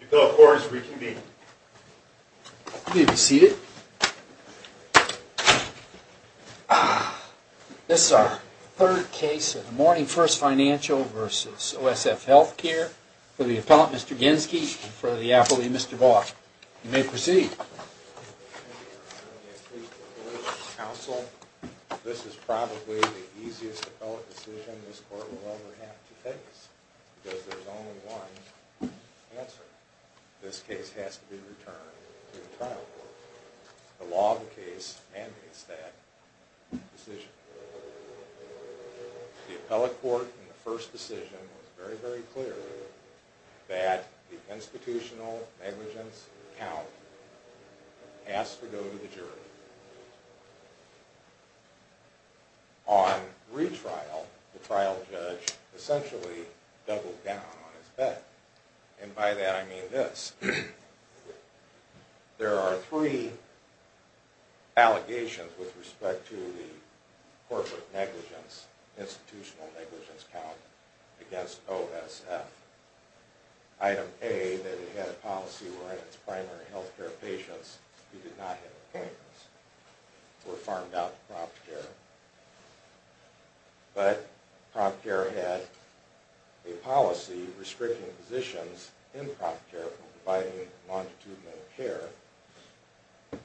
The appellate court is reconvened. You may be seated. This is our third case of the Morning First Financial v. OSF Healthcare for the appellant, Mr. Genske, and for the appellee, Mr. Vaughan. You may proceed. This is probably the easiest appellate decision this court will ever have to face, because there's only one answer. This case has to be returned to the trial court. The law of the case mandates that decision. The appellate court in the first decision was very, very clear that the institutional negligence count has to go to the jury. On retrial, the trial judge essentially doubled down on his bet, and by that I mean this. There are three allegations with respect to the corporate negligence, institutional negligence count against OSF. Item A, that it had a policy wherein its primary healthcare patients who did not have appointments were farmed out to prompt care. But prompt care had a policy restricting positions in prompt care from providing longitudinal care.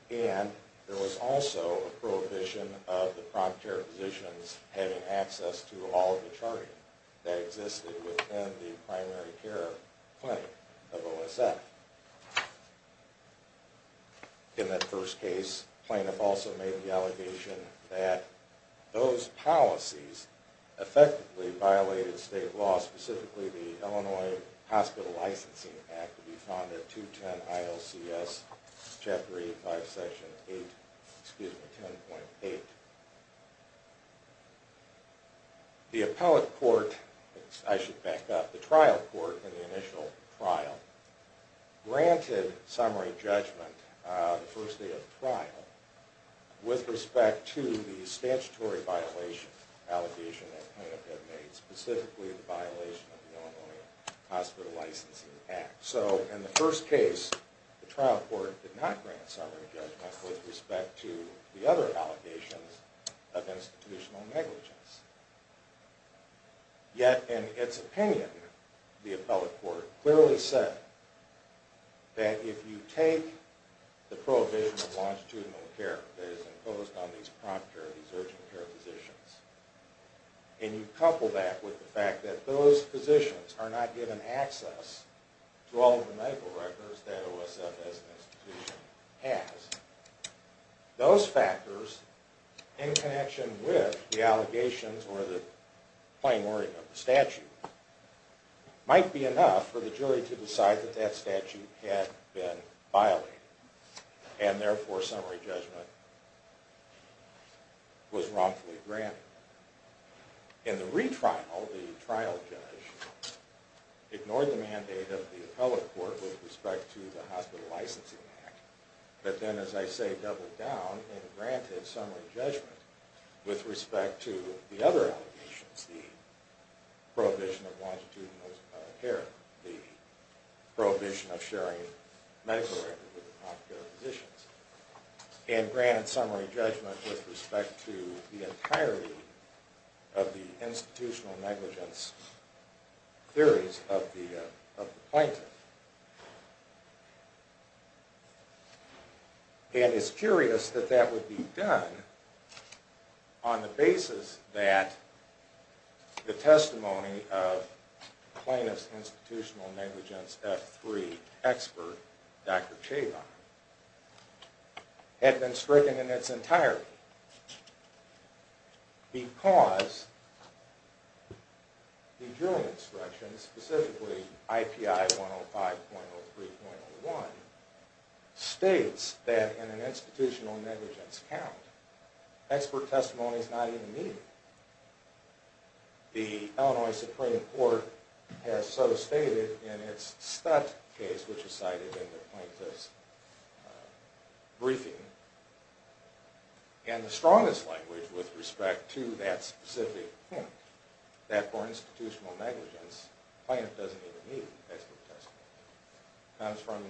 And there was also a prohibition of the prompt care physicians having access to all of the charting that existed within the primary care clinic of OSF. In that first case, the plaintiff also made the allegation that those policies effectively violated state law, specifically the Illinois Hospital Licensing Act to be found at 210 ILCS, Chapter 85, Section 8, excuse me, 10.8. The appellate court, I should back up, the trial court in the initial trial, granted summary judgment the first day of the trial with respect to the statutory violation allegation that the plaintiff had made, specifically the violation of the Illinois Hospital Licensing Act. So in the first case, the trial court did not grant summary judgment with respect to the other allegations of institutional negligence. Yet in its opinion, the appellate court clearly said that if you take the prohibition of longitudinal care that is imposed on these prompt care, these urgent care physicians, and you couple that with the fact that those physicians are not given access to all of the medical records that OSF as an institution has, those factors, in connection with the allegations or the plain wording of the statute, might be enough for the jury to decide that that statute had been violated, and therefore summary judgment was wrongfully granted. In the retrial, the trial judge ignored the mandate of the appellate court with respect to the Hospital Licensing Act, but then, as I say, doubled down and granted summary judgment with respect to the other allegations, the prohibition of longitudinal care, the prohibition of sharing medical records with prompt care physicians, and granted summary judgment with respect to the entirety of the institutional negligence theories of the plaintiff. And it's curious that that would be done on the basis that the testimony of Plaintiff's Institutional Negligence F3 expert, Dr. Chabon, had been stricken in its entirety, because the jury instruction, specifically IPI 105.03.01, states that in an institutional negligence count, expert testimony is not even needed. The Illinois Supreme Court has so stated in its Stutt case, which is cited in the plaintiff's briefing, and the strongest language with respect to that specific point, that for institutional negligence, plaintiff doesn't even need expert testimony. It comes from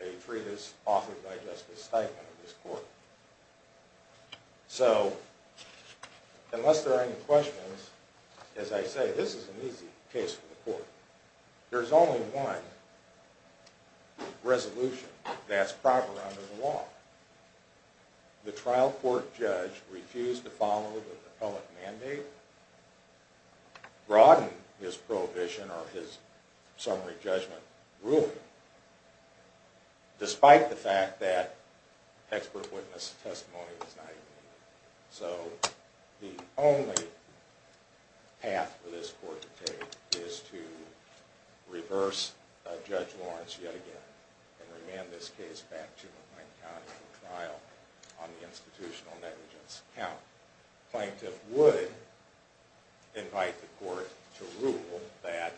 a treatise authored by Justice Steigman of this court. So, unless there are any questions, as I say, this is an easy case for the court. There's only one resolution that's proper under the law. The trial court judge refused to follow the appellate mandate, broaden his prohibition or his summary judgment ruling, despite the fact that expert witness testimony is not even needed. So, the only path for this court to take is to reverse Judge Lawrence yet again, and remand this case back to McLean County for trial on the institutional negligence count. The plaintiff would invite the court to rule that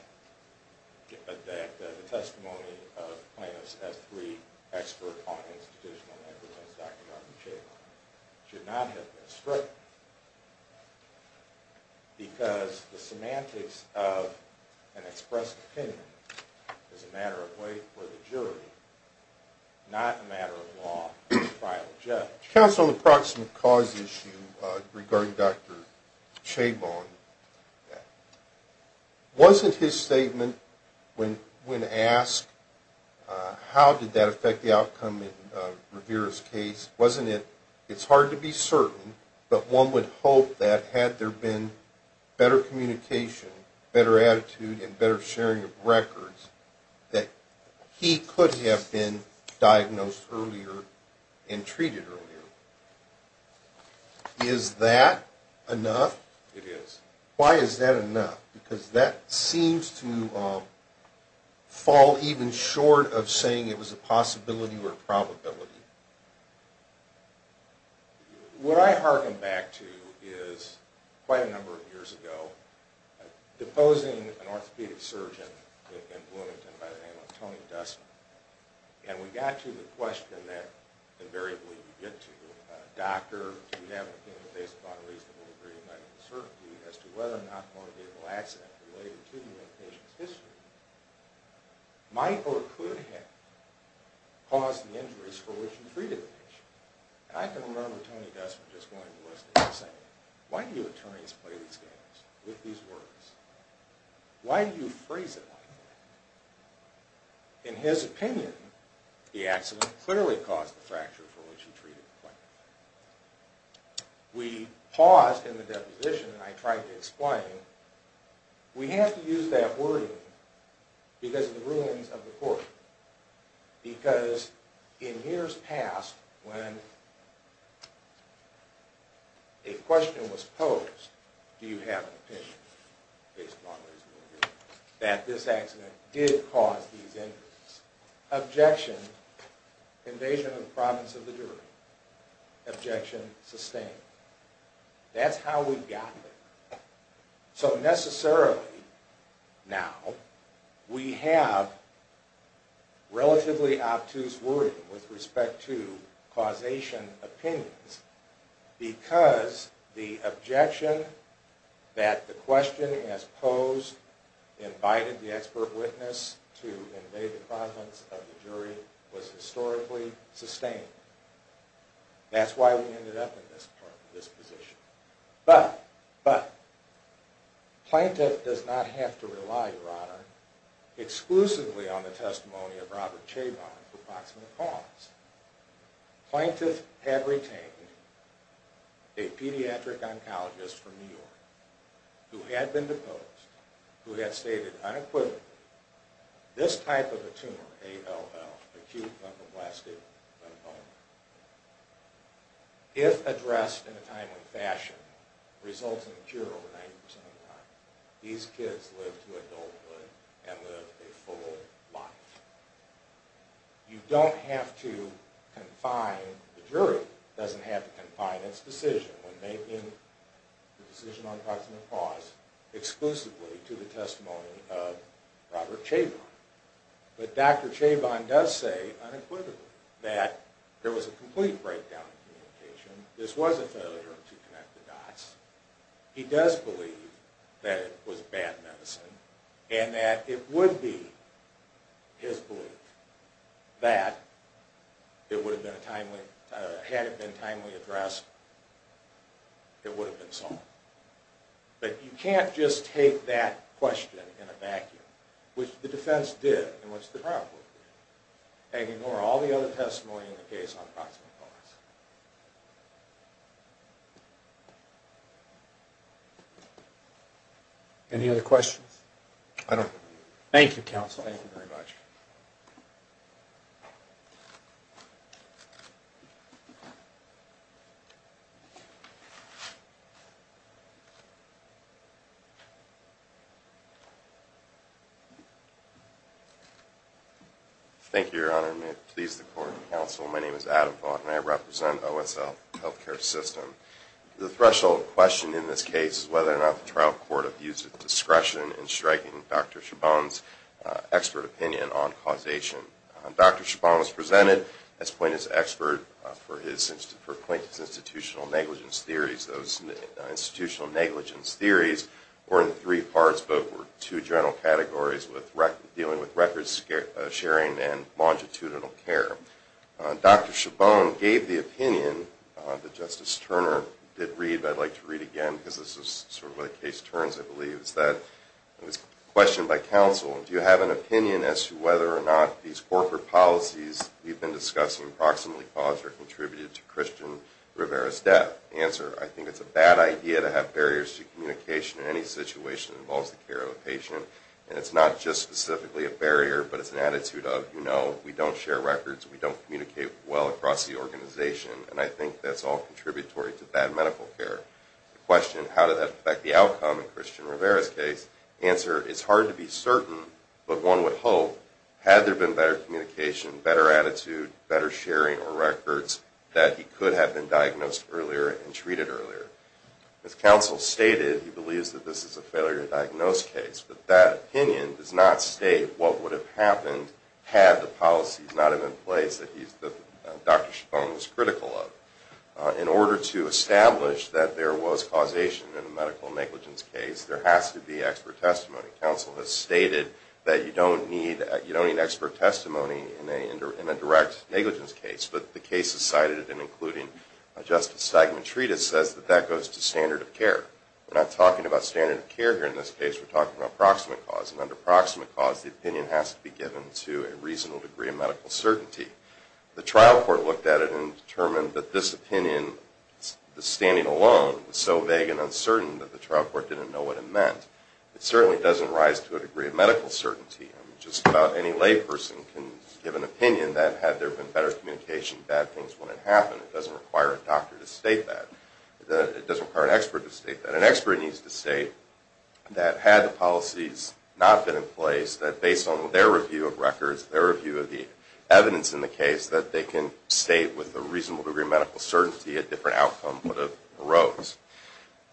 the testimony of plaintiffs as three expert on institutional negligence, should not have been stripped, because the semantics of an expressed opinion is a matter of weight for the jury, not a matter of law for the trial judge. Counsel, on the proximate cause issue regarding Dr. Chabon, wasn't his statement when asked, how did that affect the outcome in Rivera's case, wasn't it, it's hard to be certain, but one would hope that had there been better communication, better attitude and better sharing of records, that he could have been diagnosed earlier and treated earlier. Is that enough? It is. Why is that enough? Because that seems to fall even short of saying it was a possibility or a probability. What I harken back to is quite a number of years ago, deposing an orthopedic surgeon in Bloomington by the name of Tony Dussman, and we got to the question that invariably we get to, a doctor, do we have a reasonable degree of medical certainty as to whether or not a motivational accident related to the patient's history, might or could have caused the injuries for which he treated the patient. And I can remember Tony Dussman just going to the hospital and saying, why do you attorneys play these games with these words? Why do you phrase it like that? In his opinion, the accident clearly caused the fracture for which he treated the patient. We paused in the deposition and I tried to explain, we have to use that wording because of the rulings of the court. Because in years past, when a question was posed, do you have an opinion, based on reasonable degree, that this accident did cause these injuries. Objection, invasion of the province of the jury. Objection, sustained. That's how we've gotten there. So necessarily, now, we have relatively obtuse wording with respect to causation opinions, because the objection that the question has posed, invited the expert witness to invade the province of the jury, was historically sustained. That's why we ended up in this position. But, but, Plaintiff does not have to rely, Your Honor, exclusively on the testimony of Robert Chabon for proximal cause. Plaintiff had retained a pediatric oncologist from New York, who had been deposed, who had stated unequivocally, this type of a tumor, ALL, acute lymphoblastic lymphoma, if addressed in a timely fashion, results in a cure over 90% of the time. These kids live to adulthood and live a full life. You don't have to confine, the jury doesn't have to confine its decision when making the decision on proximal cause, exclusively to the testimony of Robert Chabon. But Dr. Chabon does say, unequivocally, that there was a complete breakdown in communication. This was a failure to connect the dots. He does believe that it was bad medicine, and that it would be his belief that it would have been a timely, had it been timely addressed, it would have been solved. But you can't just take that question in a vacuum, which the defense did, and which the trial court did, and ignore all the other testimony in the case on proximal cause. Any other questions? Thank you, Counsel. Thank you very much. Thank you, Your Honor, and may it please the Court and Counsel, my name is Adam Vaught, and I represent OSL Healthcare System. The threshold question in this case is whether or not the trial court abused its discretion in striking Dr. Chabon's expert opinion on causation. Dr. Chabon was presented as Plaintiff's expert for Plaintiff's Institutional Negligence Theories. Those Institutional Negligence Theories were in three parts, but were two general categories dealing with records sharing and longitudinal care. Dr. Chabon gave the opinion that Justice Turner did read, but I'd like to read again, because this is sort of where the case turns, I believe. It's a question by Counsel. Do you have an opinion as to whether or not these corporate policies we've been discussing, proximally caused or contributed to Christian Rivera's death? Answer, I think it's a bad idea to have barriers to communication in any situation that involves the care of a patient, and it's not just specifically a barrier, but it's an attitude of, you know, we don't share records, we don't communicate well across the organization, and I think that's all contributory to bad medical care. The question, how did that affect the outcome in Christian Rivera's case? Answer, it's hard to be certain, but one would hope, had there been better communication, better attitude, better sharing of records, that he could have been diagnosed earlier and treated earlier. As Counsel stated, he believes that this is a failure to diagnose case, but that opinion does not state what would have happened had the policies not have been in place that Dr. Chabon was critical of. In order to establish that there was causation in a medical negligence case, there has to be expert testimony. Counsel has stated that you don't need expert testimony in a direct negligence case, but the cases cited, and including Justice Stegman's treatise, says that that goes to standard of care. We're not talking about standard of care here in this case, we're talking about proximate cause, and under proximate cause, the opinion has to be given to a reasonable degree of medical certainty. The trial court looked at it and determined that this opinion, the standing alone, was so vague and uncertain that the trial court didn't know what it meant. It certainly doesn't rise to a degree of medical certainty. Just about any lay person can give an opinion that had there been better communication, bad things wouldn't happen. It doesn't require a doctor to state that. It doesn't require an expert to state that. An expert needs to state that had the policies not been in place, that based on their review of records, their review of the evidence in the case, that they can state with a reasonable degree of medical certainty a different outcome would have arose.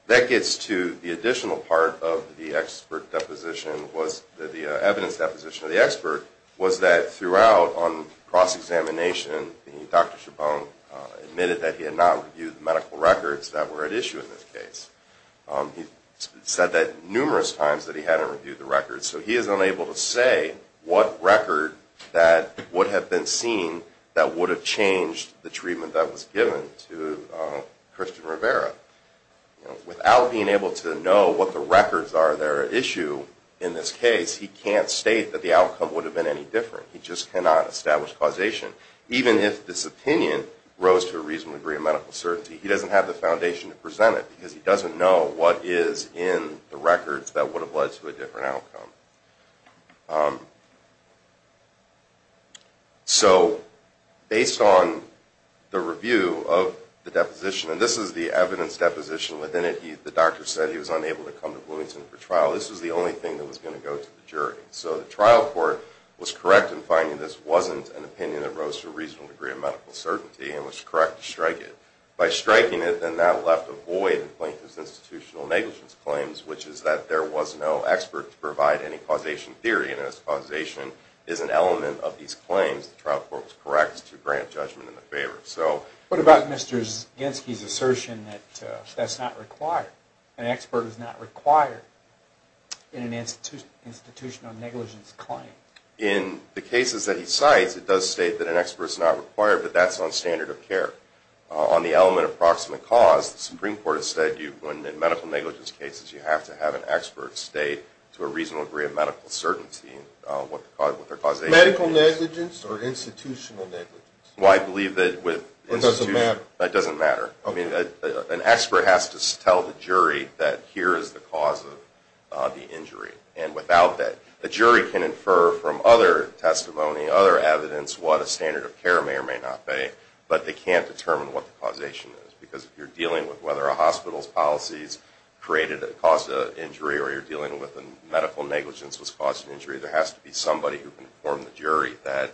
That gets to the additional part of the expert deposition, the evidence deposition of the expert, was that throughout on cross-examination, Dr. Chabon admitted that he had not reviewed the medical records that were at issue in this case. He said that numerous times that he hadn't reviewed the records, so he is unable to say what record that would have been seen that would have changed the treatment that was given to Kristen Rivera. Without being able to know what the records are at issue in this case, he can't state that the outcome would have been any different. He just cannot establish causation. Even if this opinion rose to a reasonable degree of medical certainty, he doesn't have the foundation to present it because he doesn't know what is in the records that would have led to a different outcome. So, based on the review of the deposition, and this is the evidence deposition within it, the doctor said he was unable to come to Bloomington for trial. This was the only thing that was going to go to the jury. So the trial court was correct in finding this wasn't an opinion that rose to a reasonable degree of medical certainty and was correct to strike it. By striking it, then that left a void in Plaintiff's institutional negligence claims, which is that there was no expert to provide any causation theory, and this causation is an element of these claims. The trial court was correct to grant judgment in the favor. What about Mr. Zyginski's assertion that that's not required? An expert is not required in an institutional negligence claim? In the cases that he cites, it does state that an expert is not required, but that's on standard of care. On the element of proximate cause, the Supreme Court has said that in medical negligence cases, you have to have an expert state to a reasonable degree of medical certainty what their causation is. Medical negligence or institutional negligence? Well, I believe that with institutional... That doesn't matter? That doesn't matter. An expert has to tell the jury that here is the cause of the injury, and without that, the jury can infer from other testimony, other evidence, what a standard of care may or may not be, but they can't determine what the causation is, because if you're dealing with whether a hospital's policies created or caused an injury, or you're dealing with a medical negligence that's caused an injury, there has to be somebody who can inform the jury that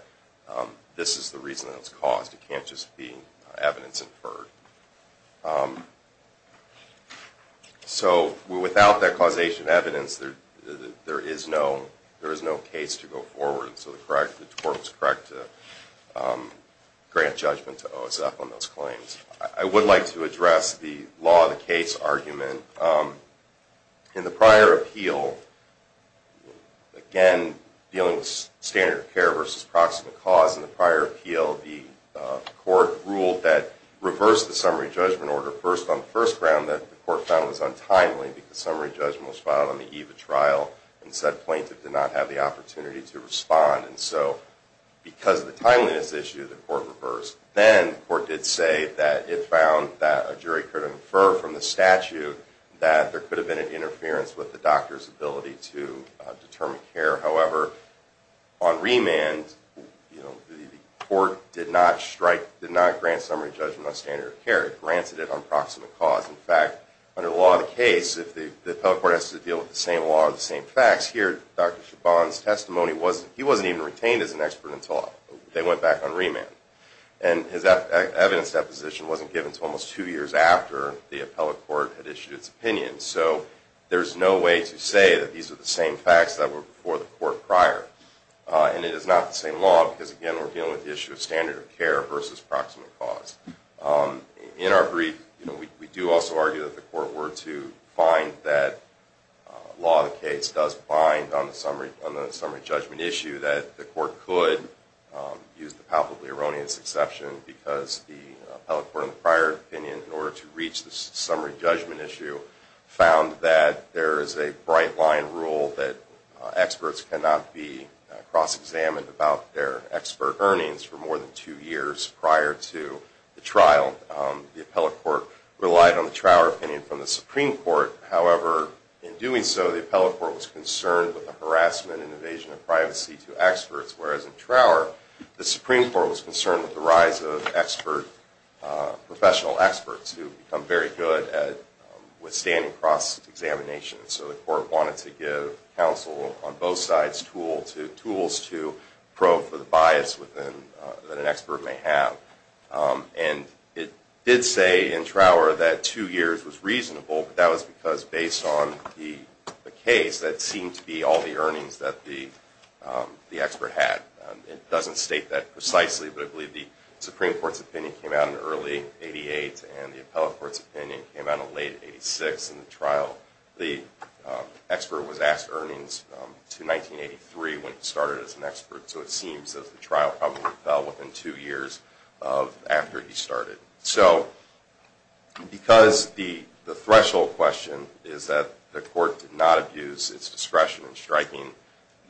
this is the reason that it's caused. It can't just be evidence inferred. So, without that causation evidence, there is no case to go forward, so the court was correct to grant judgment to OSF on those claims. I would like to address the law of the case argument. In the prior appeal, again, dealing with standard of care versus proximate cause, in the prior appeal, the court ruled that reverse the summary judgment order first on the first round that the court found was untimely, because summary judgment was filed on the eve of trial, and said plaintiff did not have the opportunity to respond, and so because of the timeliness issue, the court reversed. Then, the court did say that it found that a jury could infer from the statute that there could have been an interference with the doctor's ability to determine care. However, on remand, the court did not strike, did not grant summary judgment on standard of care. It granted it on proximate cause. In fact, under the law of the case, if the appellate court has to deal with the same law and the same facts, here, Dr. Chabon's testimony, he wasn't even retained as an expert until they went back on remand. And his evidence deposition wasn't given until almost two years after the appellate court had issued its opinion. So, there's no way to say that these are the same facts that were before the court prior. And it is not the same law, because again, we're dealing with the issue of standard of care versus proximate cause. In our brief, we do also argue that the court were to find that law of the case does bind on the summary judgment issue that the court could use the palpably erroneous exception, because the appellate court in the prior opinion, in order to reach the summary judgment issue, found that there is a bright line rule that experts cannot be cross-examined about their expert earnings for more than two years prior to the trial. The appellate court relied on the trial opinion from the Supreme Court. However, in doing so, the appellate court was concerned with the harassment and invasion of privacy to experts, whereas in Trower, the Supreme Court was concerned with the rise of professional experts who have become very good at withstanding cross-examination. So, the court wanted to give counsel on both sides tools to probe for the bias that an expert may have. And it did say in Trower that two years was reasonable, but that was because based on the case, that seemed to be all the earnings that the expert had. It doesn't state that precisely, but I believe the Supreme Court's opinion came out in early 88, and the appellate court's opinion came out in late 86 in the trial. The expert was asked earnings to 1983 when he started as an expert, so it seems that the trial probably fell within two years after he started. So, because the threshold question is that the court did not abuse its discretion to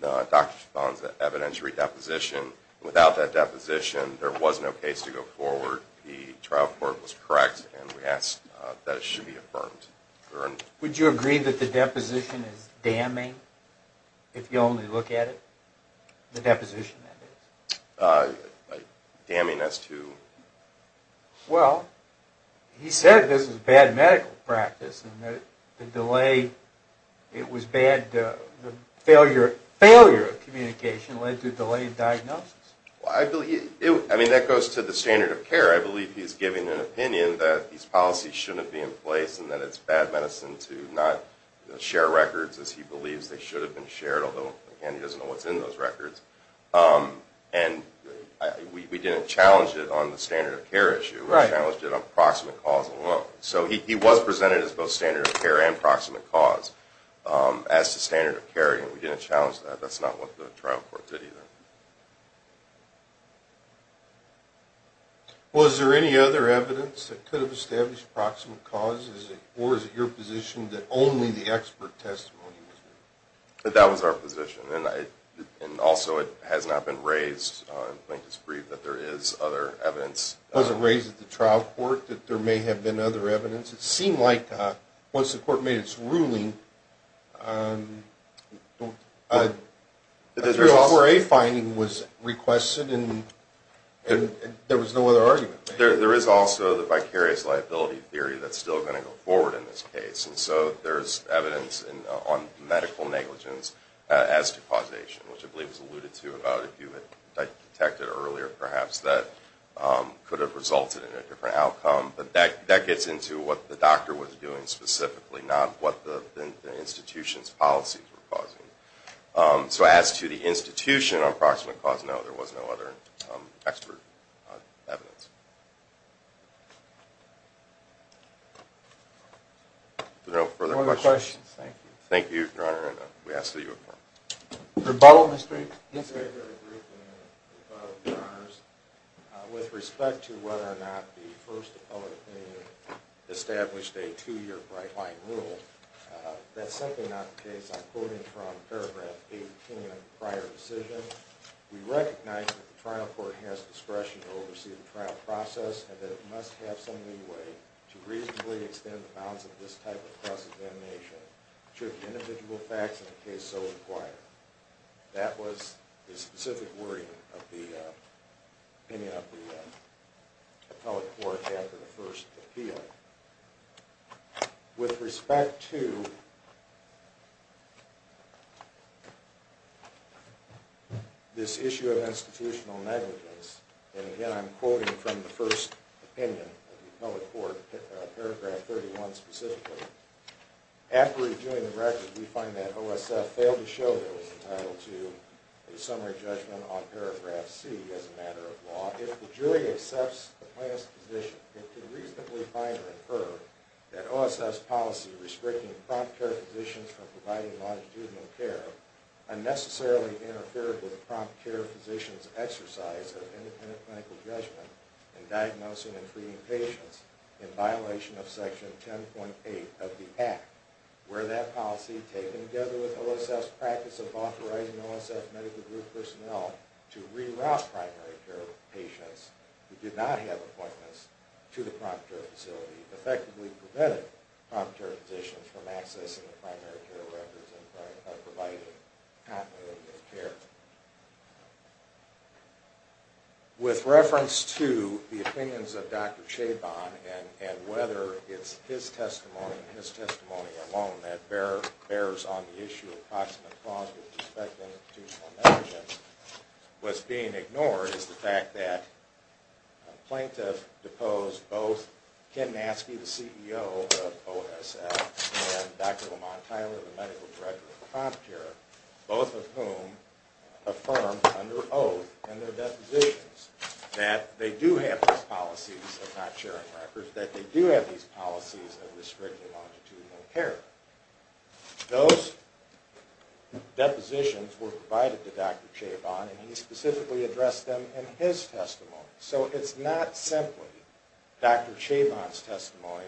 conduct the evidence re-deposition, without that deposition, there was no case to go forward. The trial court was correct, and we ask that it should be affirmed. Would you agree that the deposition is damning, if you only look at it? The deposition, that is. Damning as to? Well, he said this is bad medical practice, and the delay, it was bad. The failure of communication led to delayed diagnosis. Well, I believe, I mean, that goes to the standard of care. I believe he's giving an opinion that these policies shouldn't be in place, and that it's bad medicine to not share records as he believes they should have been shared, although, again, he doesn't know what's in those records. And we didn't challenge it on the standard of care issue. We challenged it on proximate cause alone. So he was presented as both standard of care and proximate cause as to standard of care, and we didn't challenge that. That's not what the trial court did either. Was there any other evidence that could have established proximate cause? Or is it your position that only the expert testimony was there? That was our position. And also, it has not been raised, and Plankton's brief, that there is other evidence. Was it raised at the trial court that there is other evidence? It seemed like, once the court made its ruling, a 304A finding was requested, and there was no other argument. There is also the vicarious liability theory that's still going to go forward in this case. And so there's evidence on medical negligence as to causation, which I believe was alluded to about if you had detected earlier, perhaps that could have resulted in a different outcome. But that's as to what the doctor was doing specifically, not what the institution's policies were causing. So as to the institution on proximate cause, no, there was no other expert evidence. No further questions? No further questions. Thank you. Thank you, Your Honor, and we ask that you affirm. Rebuttal, Mr. Hicks. Yes, sir. With respect to whether or not we established a two-year bright-line rule, that's simply not the case. I'm quoting from paragraph 18 of the prior decision. We recognize that the trial court has discretion to oversee the trial process, and that it must have some leeway to reasonably extend the bounds of this type of cross-examination should the individual facts of the case so require. That was the specific wording of the opinion of the appellate court. With respect to this issue of institutional negligence, and again, I'm quoting from the first opinion of the appellate court, paragraph 31 specifically. After reviewing the record, we find that OSF failed to show it was entitled to a summary judgment on paragraph C as a matter of law. We found, however, that OSF's policy restricting prompt care physicians from providing longitudinal care unnecessarily interfered with prompt care physicians' exercise of independent clinical judgment in diagnosing and treating patients in violation of section 10.8 of the Act, where that policy, taken together with OSF's practice of authorizing OSF medical group personnel to reroute primary care patients and prevent prompt care physicians from accessing the primary care records and providing continuity of care. With reference to the opinions of Dr. Chabon, and whether it's his testimony and his testimony alone that bears on the issue of proximate cause with respect to institutional negligence, what's being ignored is the fact that a plaintiff deposed both the CEO of OSF and Dr. Lamont Tyler, the medical director of prompt care, both of whom affirmed under oath in their depositions that they do have these policies of not sharing records, that they do have these policies of restricting longitudinal care. Those depositions were provided to Dr. Chabon and he specifically addressed them in his testimony. So it's not simply Dr. Chabon's testimony,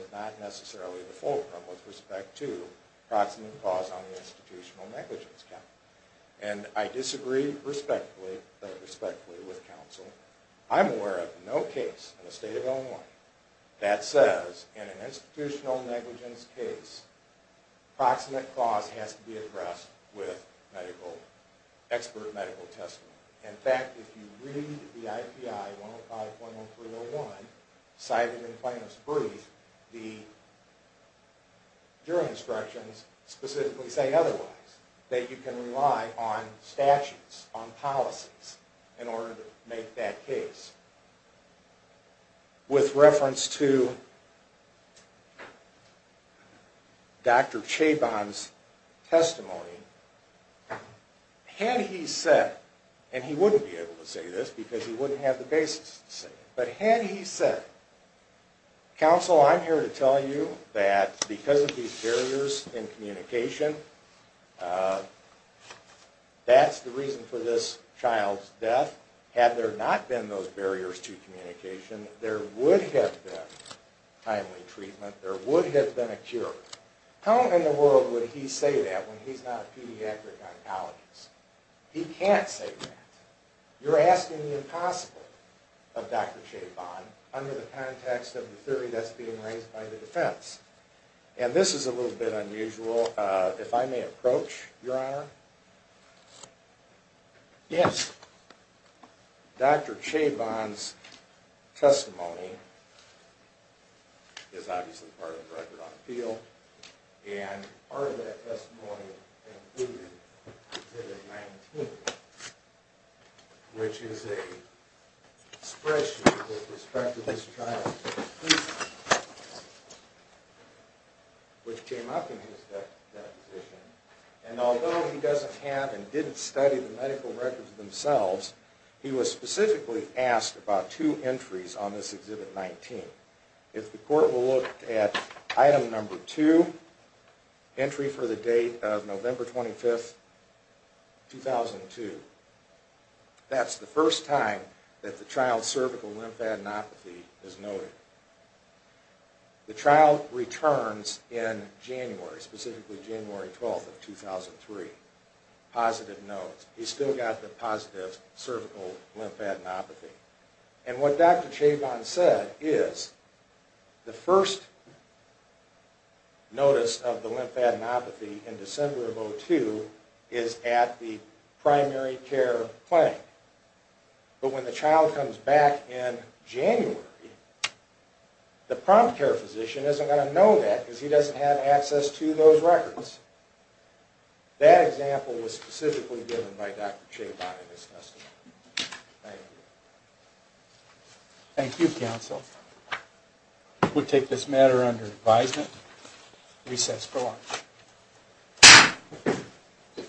it's not necessarily the fulcrum with respect to proximate cause on the institutional negligence count, and I disagree respectfully with counsel. I'm aware of no case in the state of Illinois that says in an institutional negligence case proximate cause has to be addressed with medical, expert medical testimony. In fact, if you read the IPI 105.13 1, cited in Plano's brief, the jury instructions specifically say otherwise, that you can rely on statutes, on policies, in order to make that case. With reference to Dr. Chabon's testimony, had he said, and he this because he wouldn't have the basis to say it, but had he said counsel, I'm here to tell you that because of these barriers in communication, that's the reason for this child's death. Had there not been those barriers to communication, there would have been timely treatment, there would have been a cure. How in the world would he say that when he's not a pediatric oncologist? He can't say that. You're not going to say that. So, under the context of the theory that's being raised by the defense, and this is a little bit unusual, if I may approach, Your Honor. Yes. Dr. Chabon's testimony is obviously part of the record on appeal, and part of that testimony included in exhibit 19, which is a spreadsheet that records with respect to this child, which came up in his deposition, and although he doesn't have and didn't study the medical records themselves, he was specifically asked about two entries on this exhibit 19. If the court will look at item number 2, entry for the date of November 25, 2002, the child's lymphadenopathy is noted. The child returns in January, specifically January 12, 2003, positive notes. He still got the positive cervical lymphadenopathy. And what Dr. Chabon said is the first notice of the lymphadenopathy in December of 2002 is at the primary care clinic. But when the child returns in January, the prompt care physician isn't going to know that because he doesn't have access to those records. That example was specifically given by Dr. Chabon in his testimony. Thank you.